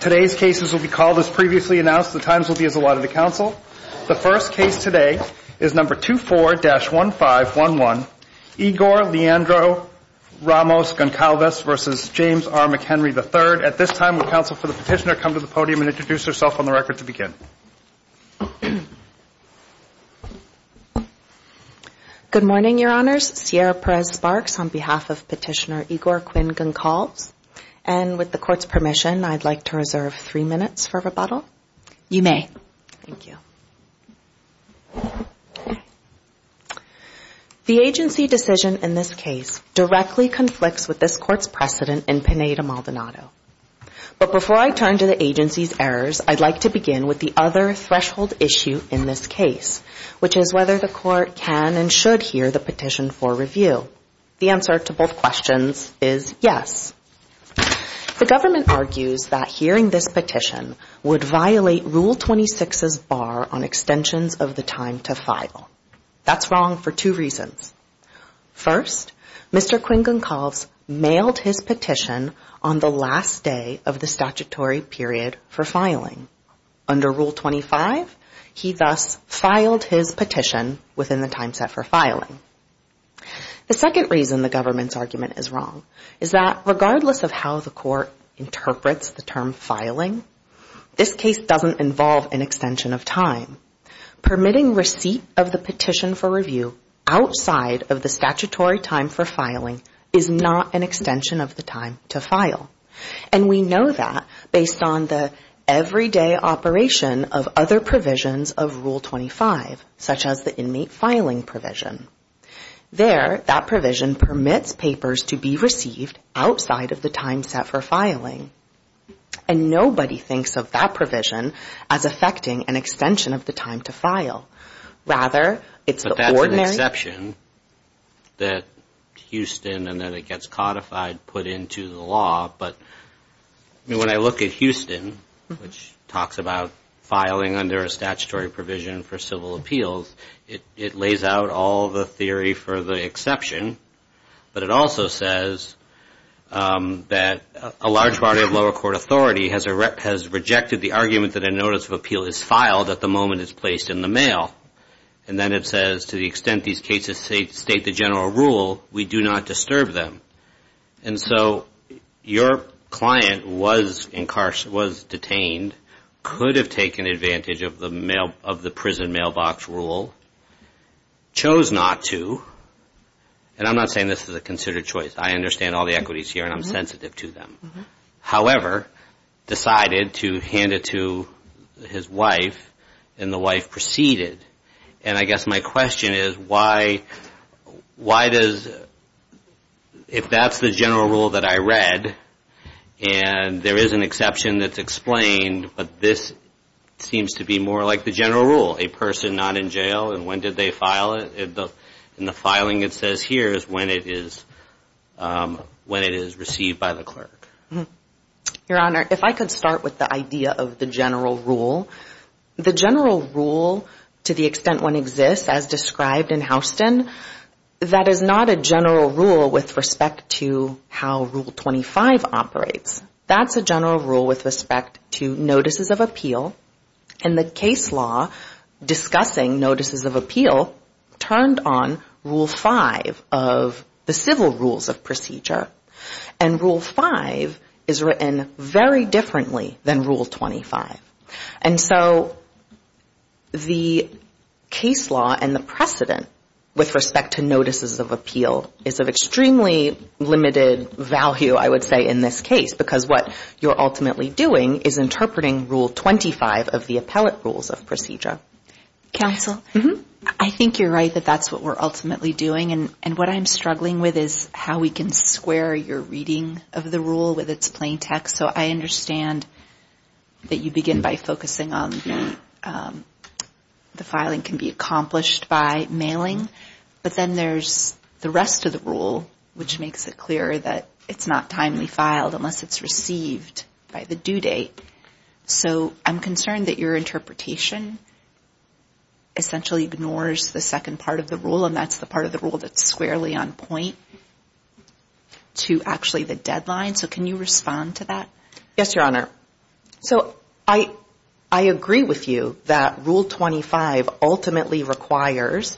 Today's cases will be called as previously announced. The times will be as allotted to counsel. The first case today is number 24-1511 Igor Leandro Ramos Goncalves versus James R. McHenry III. At this time, would counsel for the petitioner come to the podium and introduce herself on the record to begin? Good morning, Your Honors. Sierra Perez-Sparks on behalf of Petitioner Igor Quinn-Goncalves and with the court's permission, I'd like to reserve three minutes for rebuttal. You may. Thank you. The agency decision in this case directly conflicts with this court's precedent in Penae to Maldonado. But before I turn to the agency's errors, I'd like to begin with the other threshold issue in this case, which is whether the court can and should hear the petition for review. The answer to both questions is yes. The government argues that hearing this petition would violate Rule 26's bar on extensions of the time to file. That's wrong for two reasons. First, Mr. Quinn-Goncalves mailed his petition on the last day of the statutory period for filing. Under Rule 25, he thus filed his petition within the time set for filing. The second reason the government's argument is wrong is that regardless of how the court interprets the term filing, this case doesn't involve an extension of time. Permitting receipt of the petition for review outside of the statutory time for filing is not an extension of the time to file. And we know that based on the everyday operation of other provisions of Rule 25, such as the inmate filing provision. There, that provision permits papers to be received outside of the time set for filing. And nobody thinks of that provision as affecting an extension of the time to file. Rather, it's the ordinary... ...exception. But it also says that a large part of lower court authority has rejected the argument that a notice of appeal is filed at the moment it's placed in the mail. And then it says, to the extent these cases state the general rule, we do not disturb them. And so, your client was detained, could have taken advantage of the prison mailbox rule, chose not to, and now has a notice of appeal. And I'm not saying this is a considered choice. I understand all the equities here, and I'm sensitive to them. However, decided to hand it to his wife, and the wife proceeded. And I guess my question is, why does, if that's the general rule that I read, and there is an exception that's explained, but this seems to be more like the general rule. A person not in jail, and when did they file it? In the home? And the filing it says here is when it is received by the clerk. And rule five is written very differently than rule 25. And so, the case law and the precedent with respect to notices of appeal is of extremely limited value, I would say, in this case, because what you're ultimately doing is interpreting rule 25 of the appellate rules of procedure. Counsel, I think you're right that that's what we're ultimately doing, and what I'm struggling with is how we can square your reading of the rule with its plain text. So, I understand that you begin by focusing on the filing can be accomplished by mailing, but then there's the rest of the rule, which makes it clear that it's not timely filed unless it's received by the due date. So, I'm concerned that your interpretation essentially ignores the second part of the rule, and that's the part of the rule that's squarely on point to actually the deadline. So, can you respond to that? Yes, Your Honor. So, I agree with you that rule 25 ultimately requires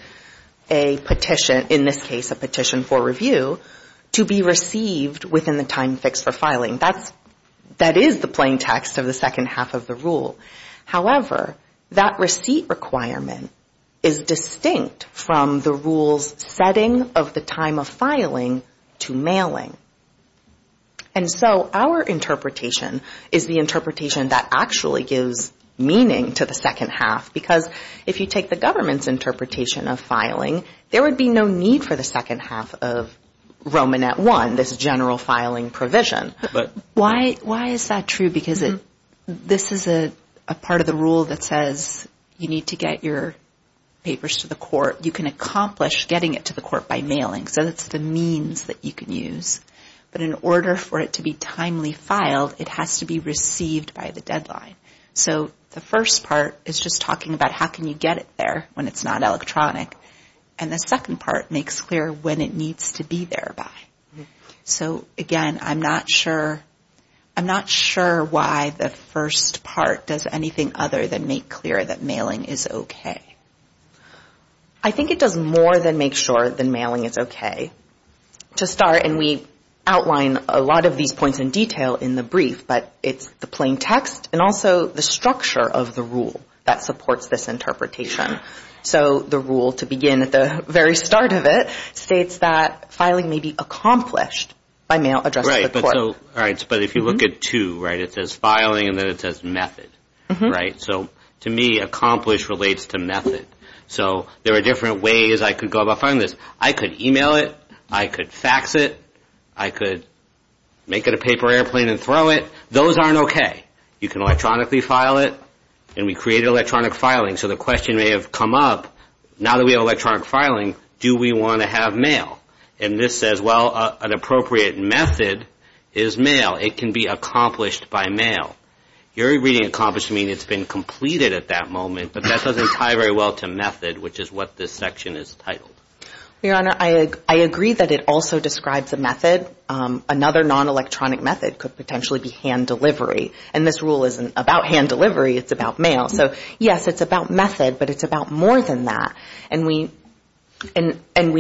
a petition, in this case a petition for review, to be received within the time fixed for filing. That is the plain text of the second half of the rule. However, that receipt requirement is distinct from the rule's setting of the time of filing to mailing. And so, our interpretation is the interpretation that actually gives meaning to the second half, because if you take the government's interpretation of filing, there would be no need for the second half of Roman at one, this general filing provision. Why is that true? Because this is a part of the rule that says you need to get your papers to the court. You can accomplish getting it to the court by mailing, so that's the means that you can use. But in order for it to be timely filed, it has to be received by the deadline. So, the first part is just talking about how can you get it there when it's not electronic, and the second part makes clear when it needs to be thereby. So, again, I'm not sure why the first part does anything other than make clear that mailing is okay. I think it does more than make sure that mailing is okay. To start, and we outline a lot of these points in detail in the brief, but it's the plain text and also the structure of the rule that supports this interpretation. So, the rule to begin at the very start of it states that filing may be accomplished by mail addressed to the court. All right, but if you look at two, right, it says filing and then it says method, right? So, to me, accomplished relates to method. So, there are different ways I could go about finding this. I could email it. I could fax it. I could make it a paper airplane and throw it. Those aren't okay. You can electronically file it, and we create electronic filing. So, the question may have come up, now that we have electronic filing, do we want to have mail? And this says, well, an appropriate method is mail. It can be accomplished by mail. Your reading accomplished means it's been completed at that moment, but that doesn't tie very well to method, which is what this section is titled. Your Honor, I agree that it also describes a method. Another non-electronic method could potentially be hand delivery, and this rule isn't about hand delivery. It's about mail. So, yes, it's about method, but it's about more than that, and we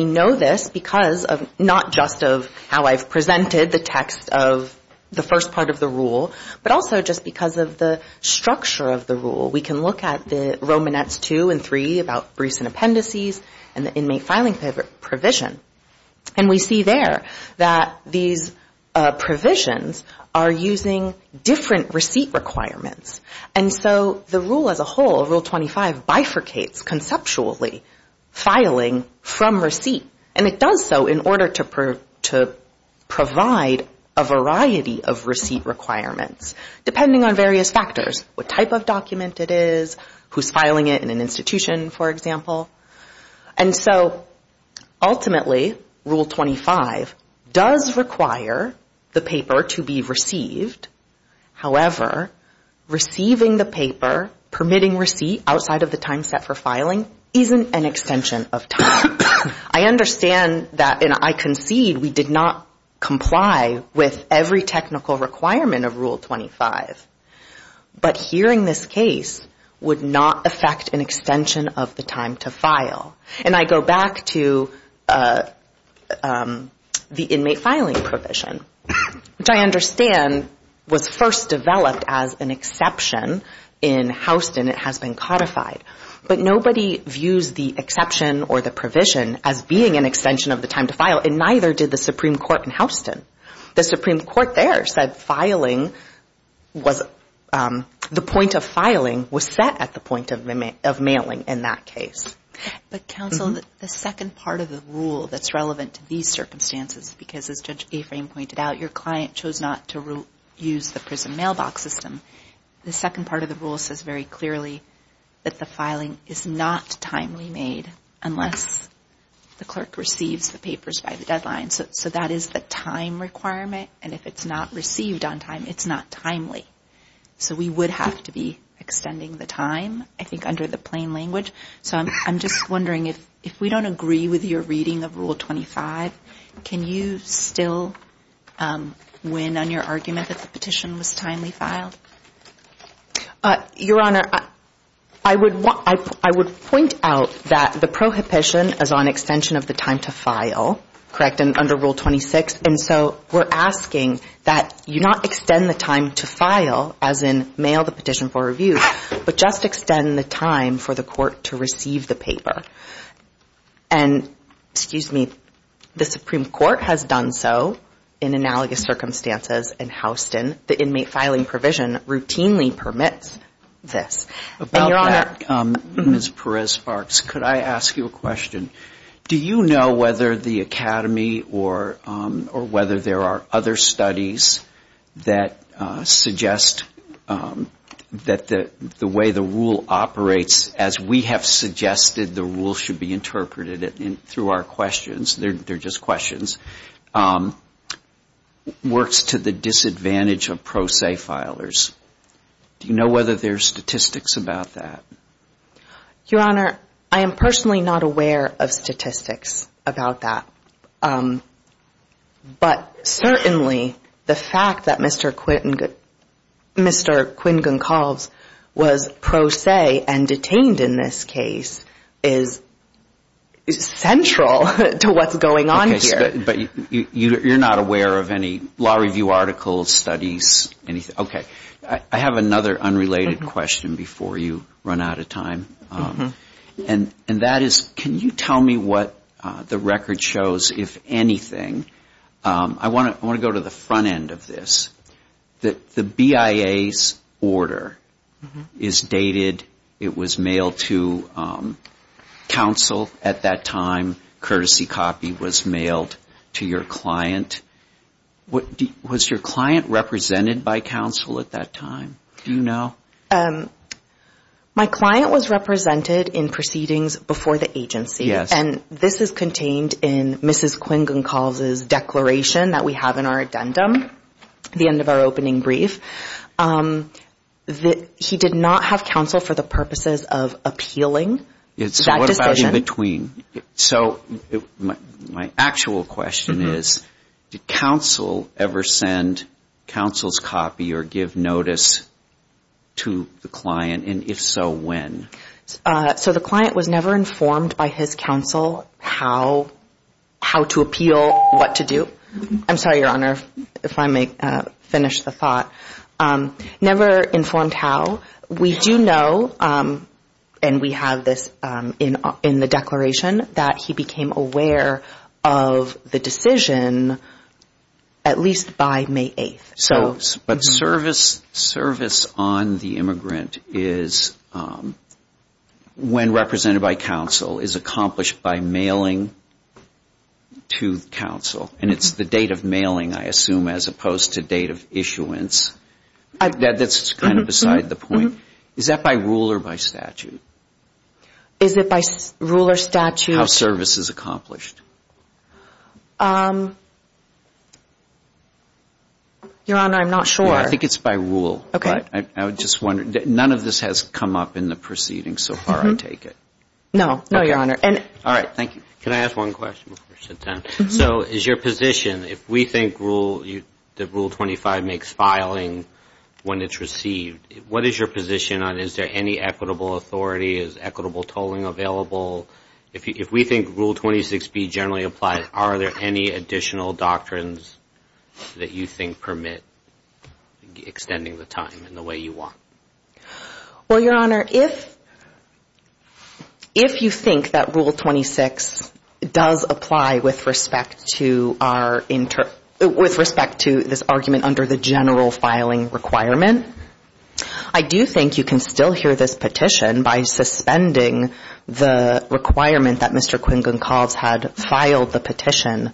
know this because of not just of how I've presented the text of the first part of the rule, but also just because of the structure of the rule. We can look at the Romanettes 2 and 3 about recent appendices and the inmate filing provision, and we see there that these provisions are using different receipt requirements. And so, the rule as a whole, Rule 25, bifurcates conceptually filing from receipt, and it does so in order to provide a variety of receipt requirements, depending on various factors. What type of document it is, who's filing it in an institution, for example. And so, ultimately, Rule 25 does require the paper to be received. However, receiving the paper, permitting receipt outside of the time set for filing, isn't an extension of time. I understand that, and I concede, we did not comply with every technical requirement of Rule 25, but hearing this case would not affect an extension of the time to file. And I go back to the inmate filing provision, which I understand was first developed as an exception in Houston. It has been codified. But nobody views the exception or the provision as being an extension of the time to file, and neither did the Supreme Court in Houston. The Supreme Court there said filing was, the point of filing was set at the point of mailing in that case. But counsel, the second part of the rule that's relevant to these circumstances, because as Judge Aframe pointed out, your client chose not to use the prison mailbox system, the second part of the rule says very clearly that the filing is not timely made unless the clerk receives the papers by the deadline. So that is the time requirement, and if it's not received on time, it's not timely. So we would have to be extending the time, I think, under the plain language. So I'm just wondering, if we don't agree with your reading of Rule 25, can you still win on your argument that the petition was timely filed? Your Honor, I would point out that the prohibition is on extension of the time to file, correct, and under Rule 26. And so we're asking that you not extend the time to file, as in mail the petition for review, but just extend the time for the court to receive the paper. And, excuse me, the Supreme Court has done so in analogous circumstances in Houston. The inmate filing provision routinely permits this. About that, Ms. Perez-Sparks, could I ask you a question? Do you know whether the Academy or whether there are other studies that suggest that the way the rule operates, as we have suggested the rule should be interpreted through our questions, they're just questions, works to the disadvantage of pro se filers? Do you know whether there's statistics about that? Your Honor, I am personally not aware of statistics about that. But certainly, the fact that Mr. Quinn-Goncalves was pro se and detained in this case is central to what's going on here. But you're not aware of any law review articles, studies, anything? Okay. I have another unrelated question before you run out of time. And that is, can you tell me what the record shows, if anything? I want to go to the front end of this. The BIA's order is dated, it was mailed to counsel at that time. Courtesy copy was mailed to your client. Was your client represented by counsel at that time? Do you know? My client was represented in proceedings before the agency. And this is contained in Mrs. Quinn-Goncalves' declaration that we have in our addendum, the end of our opening brief. He did not have counsel for the purposes of appealing that decision. So my actual question is, did counsel ever send counsel's copy or give notice to the client? And if so, when? So the client was never informed by his counsel how to appeal, what to do. I'm sorry, Your Honor, if I may finish the thought. Never informed how. We do know, and we have this in the declaration, that he became aware of the decision at least by May 8th. But service on the immigrant is, when represented by counsel, is accomplished by mailing to counsel. And it's the date of mailing, I assume, as opposed to date of issuance. That's kind of beside the point. Is that by rule or by statute? Is it by rule or statute? How service is accomplished. Your Honor, I'm not sure. I think it's by rule. I'm just wondering. None of this has come up in the proceedings so far, I take it. No, Your Honor. Can I ask one question? So is your position, if we think that Rule 25 makes filing when it's received, what is your position on is there any equitable authority, is equitable tolling available? If we think Rule 26B generally applies, are there any additional doctrines that you think permit? Extending the time in the way you want. Well, Your Honor, if you think that Rule 26 does apply with respect to this argument under the general filing requirement, I do think you can still hear this petition by suspending the requirement that Mr. Quincuncobs had filed the petition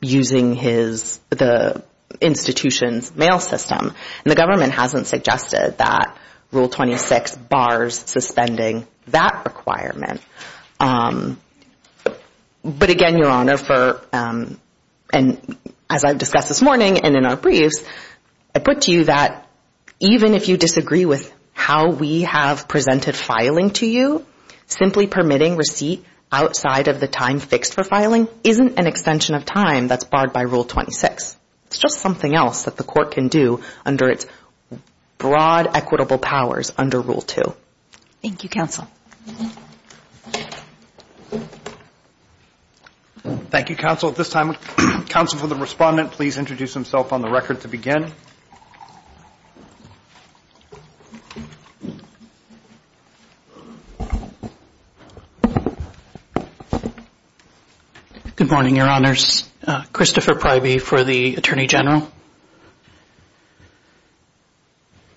using the institution's mail system. And the government hasn't suggested that Rule 26 bars suspending that requirement. But again, Your Honor, as I've discussed this morning and in our briefs, I put to you that even if you disagree with how we have presented filing to you, simply permitting receipt outside of the time fixed for filing isn't an extension of time that's barred by Rule 26. It's just something else that the court can do under its broad equitable powers under Rule 2. Thank you, counsel. Thank you, counsel. At this time, counsel for the respondent, please introduce himself on the record to begin. Good morning, Your Honors. Christopher Pryby for the Attorney General.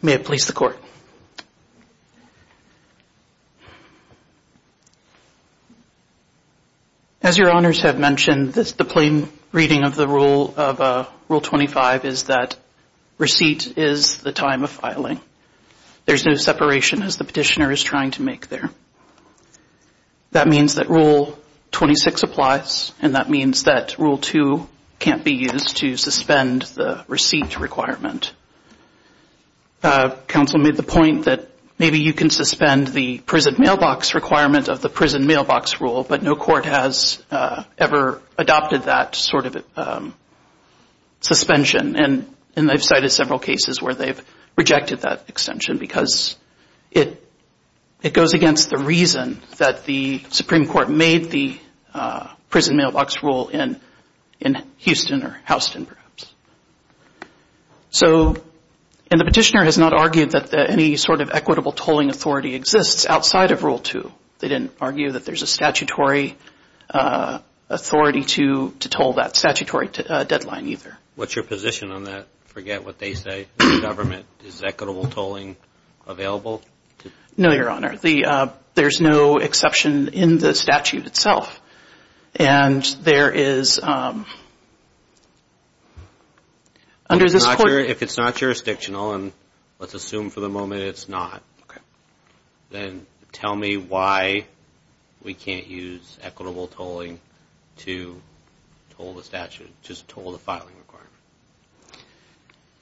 May it please the Court. As Your Honors have mentioned, the plain reading of Rule 25 is that receipt is the time of filing. There's no separation as the petitioner is trying to make there. That means that Rule 26 applies and that means that Rule 2 can't be used to suspend the receipt requirement. Counsel made the point that maybe you can suspend the prison mailbox requirement of the prison mailbox rule, but no court has ever adopted that sort of suspension. And I've cited several cases where they've rejected that extension because it goes against the reason that the Supreme Court made the prison mailbox rule in Houston or Houston perhaps. So and the petitioner has not argued that any sort of equitable tolling authority exists outside of Rule 2. They didn't argue that there's a statutory authority to toll that statutory deadline either. What's your position on that? Forget what they say. Is the government, is equitable tolling available? No, Your Honor. There's no exception in the statute itself. If it's not jurisdictional, and let's assume for the moment it's not, then tell me why we can't use equitable tolling to toll the statute, just toll the filing requirement.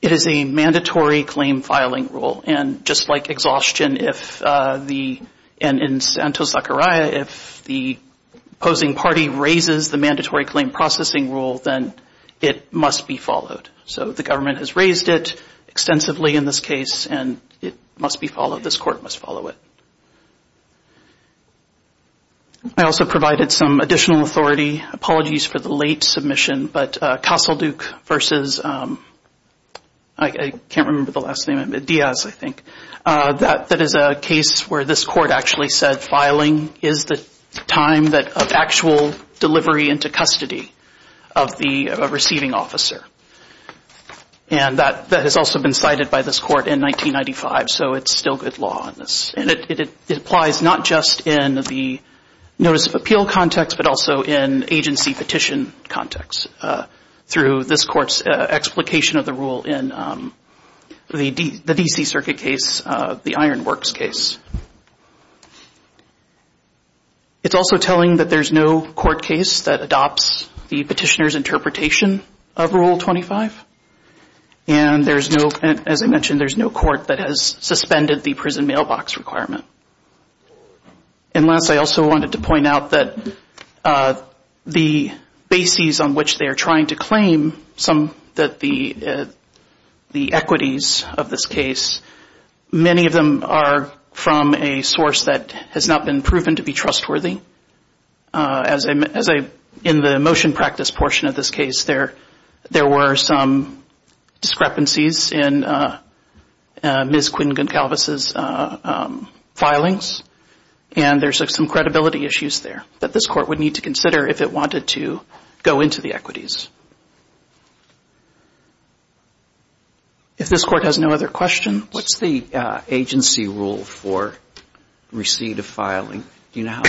It is a mandatory claim filing rule. And just like exhaustion, if the opposing party raises the mandatory claim processing rule, then it must be followed. So the government has raised it extensively in this case, and it must be followed, this court must follow it. I also provided some additional authority. Apologies for the late submission, but Castle Duke versus, I can't remember the last name, Diaz I think, that is a case where this court actually said filing is the time of actual delivery into custody of a receiving officer. And that has also been cited by this court in 1995, so it's still good law on this. And it applies not just in the notice of appeal context, but also in agency petition context, through this court's explication of the rule in the D.C. Circuit case, the Iron Works case. It's also telling that there's no court case that adopts the petitioner's interpretation of Rule 25. And there's no, as I mentioned, there's no court that has suspended the prison mailbox requirement. And last, I also wanted to point out that the bases on which they are trying to claim some, that the equities of this case, many of them are from the prison mailbox. They are from a source that has not been proven to be trustworthy. As in the motion practice portion of this case, there were some discrepancies in Ms. Quinn-Goncalves' filings, and there's some credibility issues there that this court would need to consider if it wanted to go into the equities. If this court has no other questions. What's the agency rule for receipt of filing? Do you know how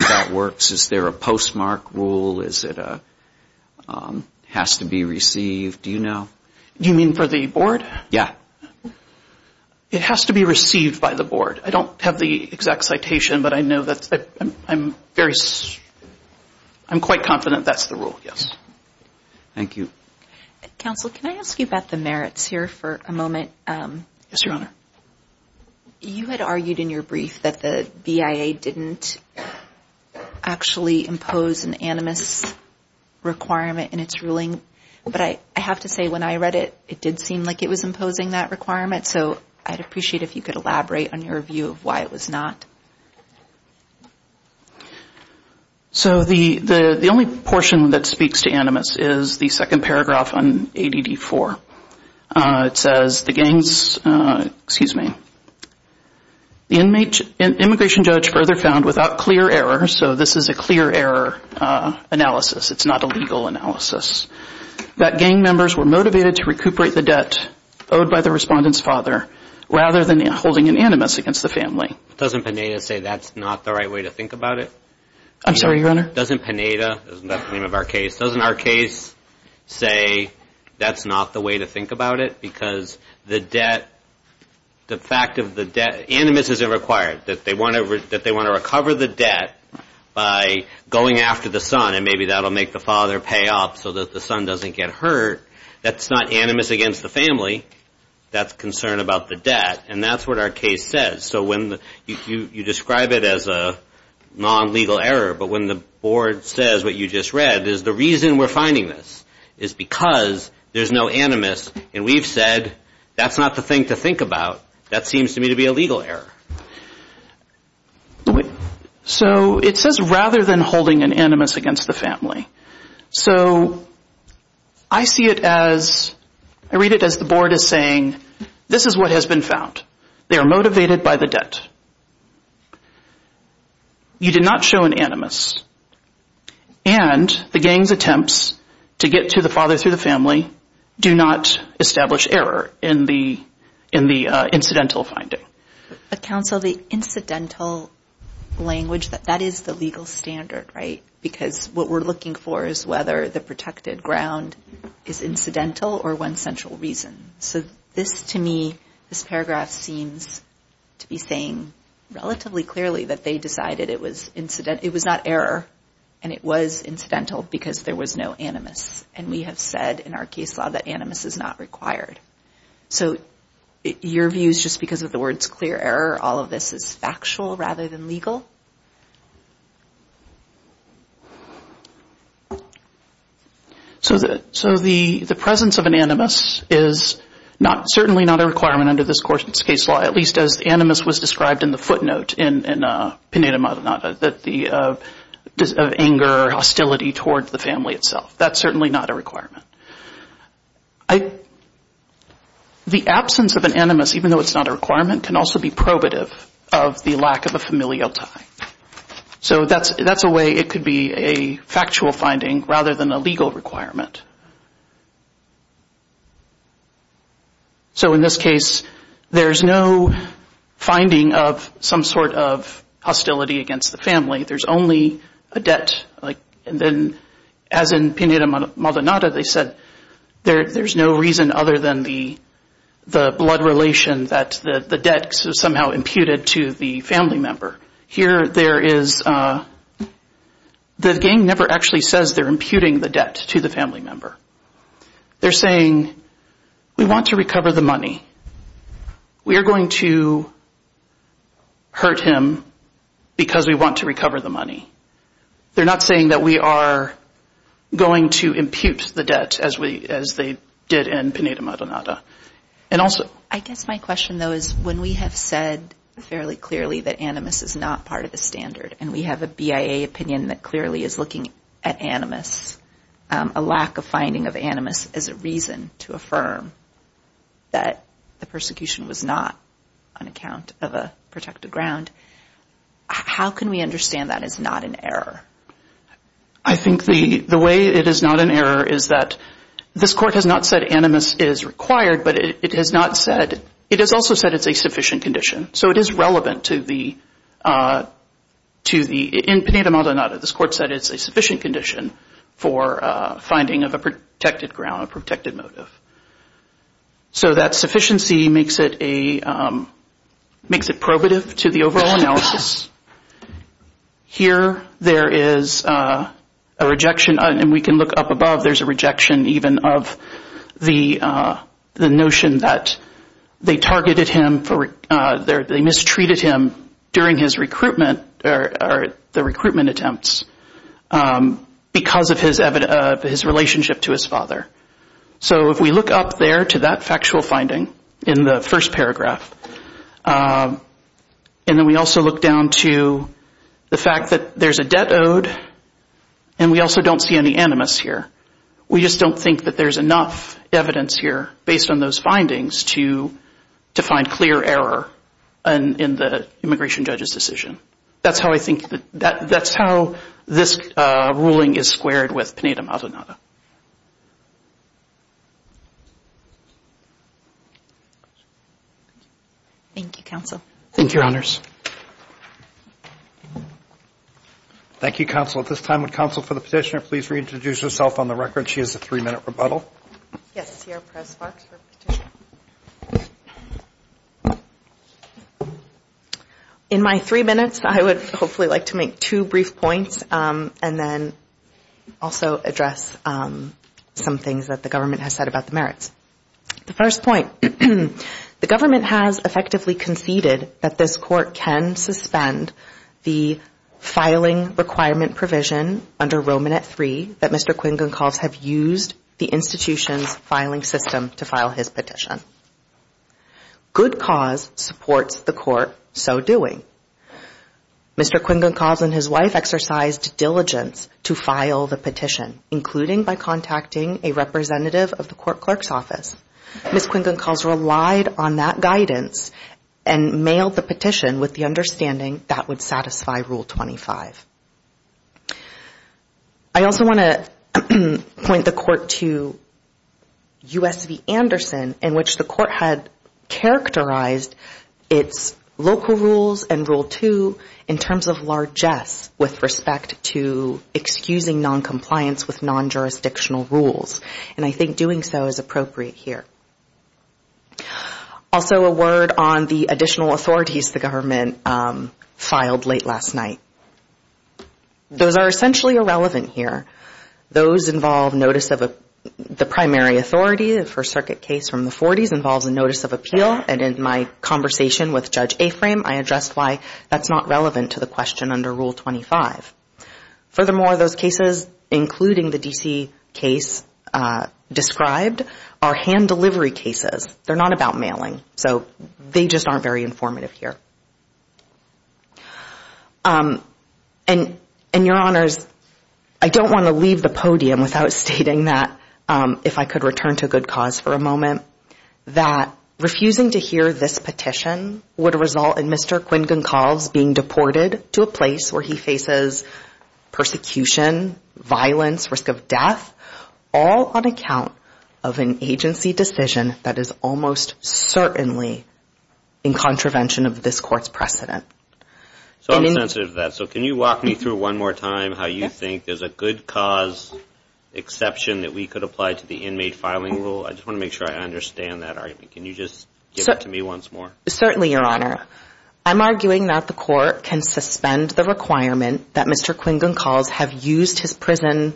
that works? Is there a postmark rule? Is it a, has to be received? Do you know? Do you mean for the board? Yeah. It has to be received by the board. I don't have the exact citation, but I know that I'm very, I'm quite confident that's the rule, yes. Thank you. Counsel, can I ask you about the merits here for a moment? Yes, Your Honor. You had argued in your brief that the BIA didn't actually impose an animus requirement in its ruling, but I have to say when I read it, it did seem like it was imposing that requirement, so I'd appreciate if you could elaborate on your view of why it was not. So the only portion that speaks to animus is the second paragraph on ADD4. It says the gang's, excuse me, the immigration judge further found without clear error, so this is a clear error analysis. It's not a legal analysis, that gang members were motivated to recuperate the debt owed by the respondent's father rather than holding an animus against the family. Doesn't Pineda say that's not the right way to think about it? I'm sorry, Your Honor? Doesn't Pineda, that's the name of our case, doesn't our case say that's not the way to think about it? Because the debt, the fact of the debt, animus is required, that they want to recover the debt by going after the son, and maybe that will make the father pay up so that the son doesn't get hurt. That's not animus against the family. That's concern about the debt, and that's what our case says. So you describe it as a non-legal error, but when the board says what you just read is the reason we're finding this is because there's no animus, and we've said that's not the thing to think about. That seems to me to be a legal error. So it says rather than holding an animus against the family. So I see it as, I read it as the board is saying this is what has been found. They are motivated by the debt. You did not show an animus, and the gang's attempts to get to the father through the family do not establish error in the incidental finding. But counsel, the incidental language, that is the legal standard, right? Because what we're looking for is whether the protected ground is incidental or one central reason. So this to me, this paragraph seems to be saying relatively clearly that they decided it was not error, and it was incidental because there was no animus. And we have said in our case law that animus is not required. So your view is just because of the words clear error, all of this is factual rather than legal? So the presence of an animus is not, certainly not a requirement under this court's case law, at least as animus was described in the footnote in Pineda Madana, of anger, hostility towards the family itself. That's certainly not a requirement. The absence of an animus, even though it's not a requirement, can also be probative of the lack of a familial tie. So that's a way it could be a factual finding rather than a legal requirement. So in this case, there's no finding of some sort of hostility against the family. There's only a debt. And then as in Pineda Madana, they said there's no reason other than the blood relation that the debt is somehow imputed to the family member. The gang never actually says they're imputing the debt to the family member. They're saying we want to recover the money. We are going to hurt him because we want to recover the money. They're not saying that we are going to impute the debt as they did in Pineda Madana. I guess my question, though, is when we have said fairly clearly that animus is not part of the standard and we have a BIA opinion that clearly is looking at animus, a lack of finding of animus as a reason to affirm that the persecution was not on account of a protected ground, how can we understand that is not an error? I think the way it is not an error is that this court has not said animus is required. But it has not said, it has also said it's a sufficient condition. So it is relevant to the, in Pineda Madana, this court said it's a sufficient condition for finding of a protected ground, a protected motive. So that sufficiency makes it probative to the overall analysis. Here there is a rejection, and we can look up above, there's a rejection even of the BIA opinion. The notion that they targeted him, they mistreated him during his recruitment or the recruitment attempts because of his relationship to his father. So if we look up there to that factual finding in the first paragraph, and then we also look down to the fact that there's a debt owed, and we also don't see any animus here. We just don't think that there's enough evidence here based on those findings to find clear error in the immigration judge's decision. That's how I think, that's how this ruling is squared with Pineda Madana. Thank you, counsel. Thank you, Your Honors. Thank you, counsel. At this time, would counsel for the petitioner please reintroduce herself on the record. She has a three-minute rebuttal. In my three minutes, I would hopefully like to make two brief points, and then also address some things that the government has said about the merits. The first point, the government has effectively conceded that this court can suspend the filing requirement provision under Roman at three that Mr. Quincuncoz have used the institution's filing system to file his petition. Good cause supports the court so doing. Mr. Quincuncoz and his wife exercised diligence to file the petition, including by contacting a representative of the court clerk's office. Ms. Quincuncoz relied on that guidance and mailed the petition with the understanding that would satisfy Rule 25. I also want to point the court to U.S. v. Anderson, in which the court had characterized its local rules and Rule 2 in terms of largesse with respect to excusing noncompliance with non-jurisdictional rules. And I think doing so is appropriate here. Also a word on the additional authorities the government filed late last night. Those are essentially irrelevant here. Those involve notice of the primary authority, the First Circuit case from the 40s involves a notice of appeal, and in my conversation with Judge Aframe, I addressed why that's not relevant to the question under Rule 25. Furthermore, those cases, including the D.C. case described, are hand-delivery cases. They're not about mailing, so they just aren't very informative here. And, Your Honors, I don't want to leave the podium without stating that, if I could return to good cause for a moment, that refusing to hear this petition would result in Mr. Quincuncoz being deported to a place where he faces a criminal trial. And, Your Honor, I'm arguing that the court could suspend the requirement that Mr. Quincuncoz be deported to a place where he faces persecution, violence, risk of death, all on account of an agency decision that is almost certainly in contravention of this Court's precedent. And so I'm sensitive to that, so can you walk me through one more time how you think there's a good cause exception that we could apply to the inmate filing rule? I just want to make sure I understand that argument. Certainly, Your Honor. I'm arguing that the court can suspend the requirement that Mr. Quincuncoz have used his prison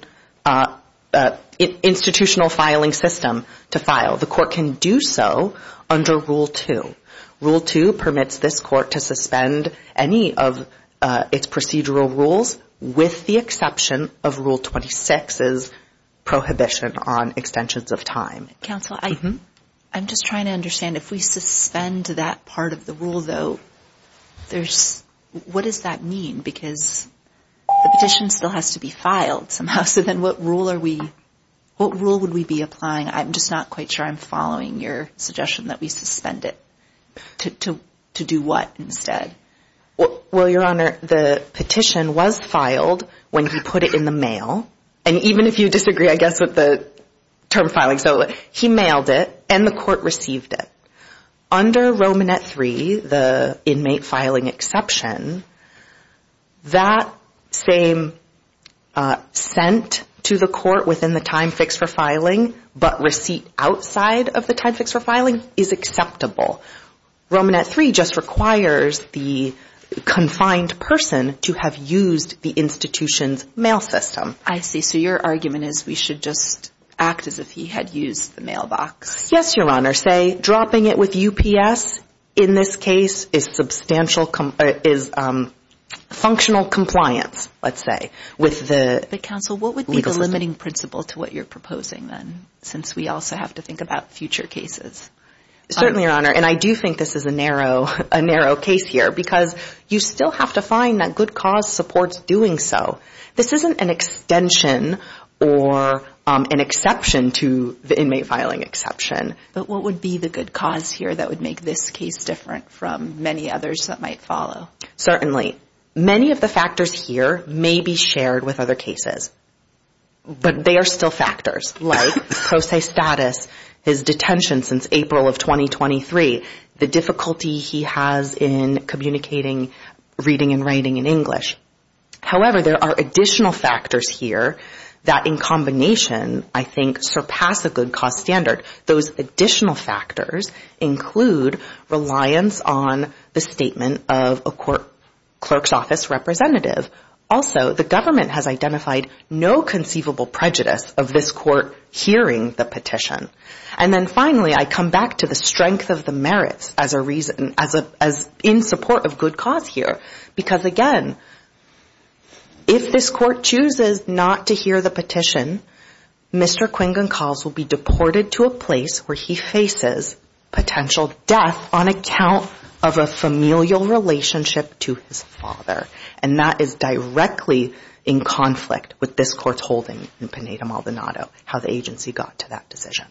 institutional filing system to file. The court can do so under Rule 2. Rule 2 permits this court to suspend any of its procedural rules with the exception of Rule 26's prohibition on extensions of time. Counsel, I'm just trying to understand, if we suspend that part of the rule, though, what does that mean? Because the petition still has to be filed somehow, so then what rule would we be applying? I'm just not quite sure I'm following your suggestion that we suspend it. To do what instead? Well, Your Honor, the petition was filed when he put it in the mail. And even if you disagree, I guess, with the term filing. So he mailed it, and the court received it. Under Romanet 3, the inmate filing exception, that same sent to the court within the time fixed for filing, but receipt outside of the time fixed for filing, is acceptable. Romanet 3 just requires the confined person to have used the institution's mail system. I see. So your argument is we should just act as if he had used the mailbox. Yes, Your Honor. Say dropping it with UPS in this case is functional compliance, let's say, with the legal system. But, Counsel, what would be the limiting principle to what you're proposing, then, since we also have to think about future cases? Certainly, Your Honor. And I do think this is a narrow case here, because you still have to find that good cause supports doing so. This isn't an extension or an exception to the inmate filing exception. But what would be the good cause here that would make this case different from many others that might follow? Certainly. Many of the factors here may be shared with other cases. But they are still factors, like pro se status, his detention since April of 2023, the difficulty he has in communicating, reading and writing in English. However, there are additional factors here that, in combination, I think, surpass a good cause standard. Those additional factors include reliance on the statement of a clerk's office representative. Also, the government has identified no conceivable prejudice of this court hearing the petition. And then, finally, I come back to the strength of the merits in support of good cause here. Because, again, if this court chooses not to hear the petition, Mr. Quingon Calls will be deported to a place where he faces potential death on account of a familial relationship to his father. And that is directly in conflict with this court's holding in Pineda-Maldonado, how the agency got to that decision.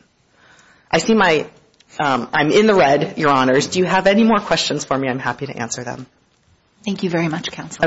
I'm in the red, Your Honors. Do you have any more questions for me? I'm happy to answer them. Thank you very much, Counsel.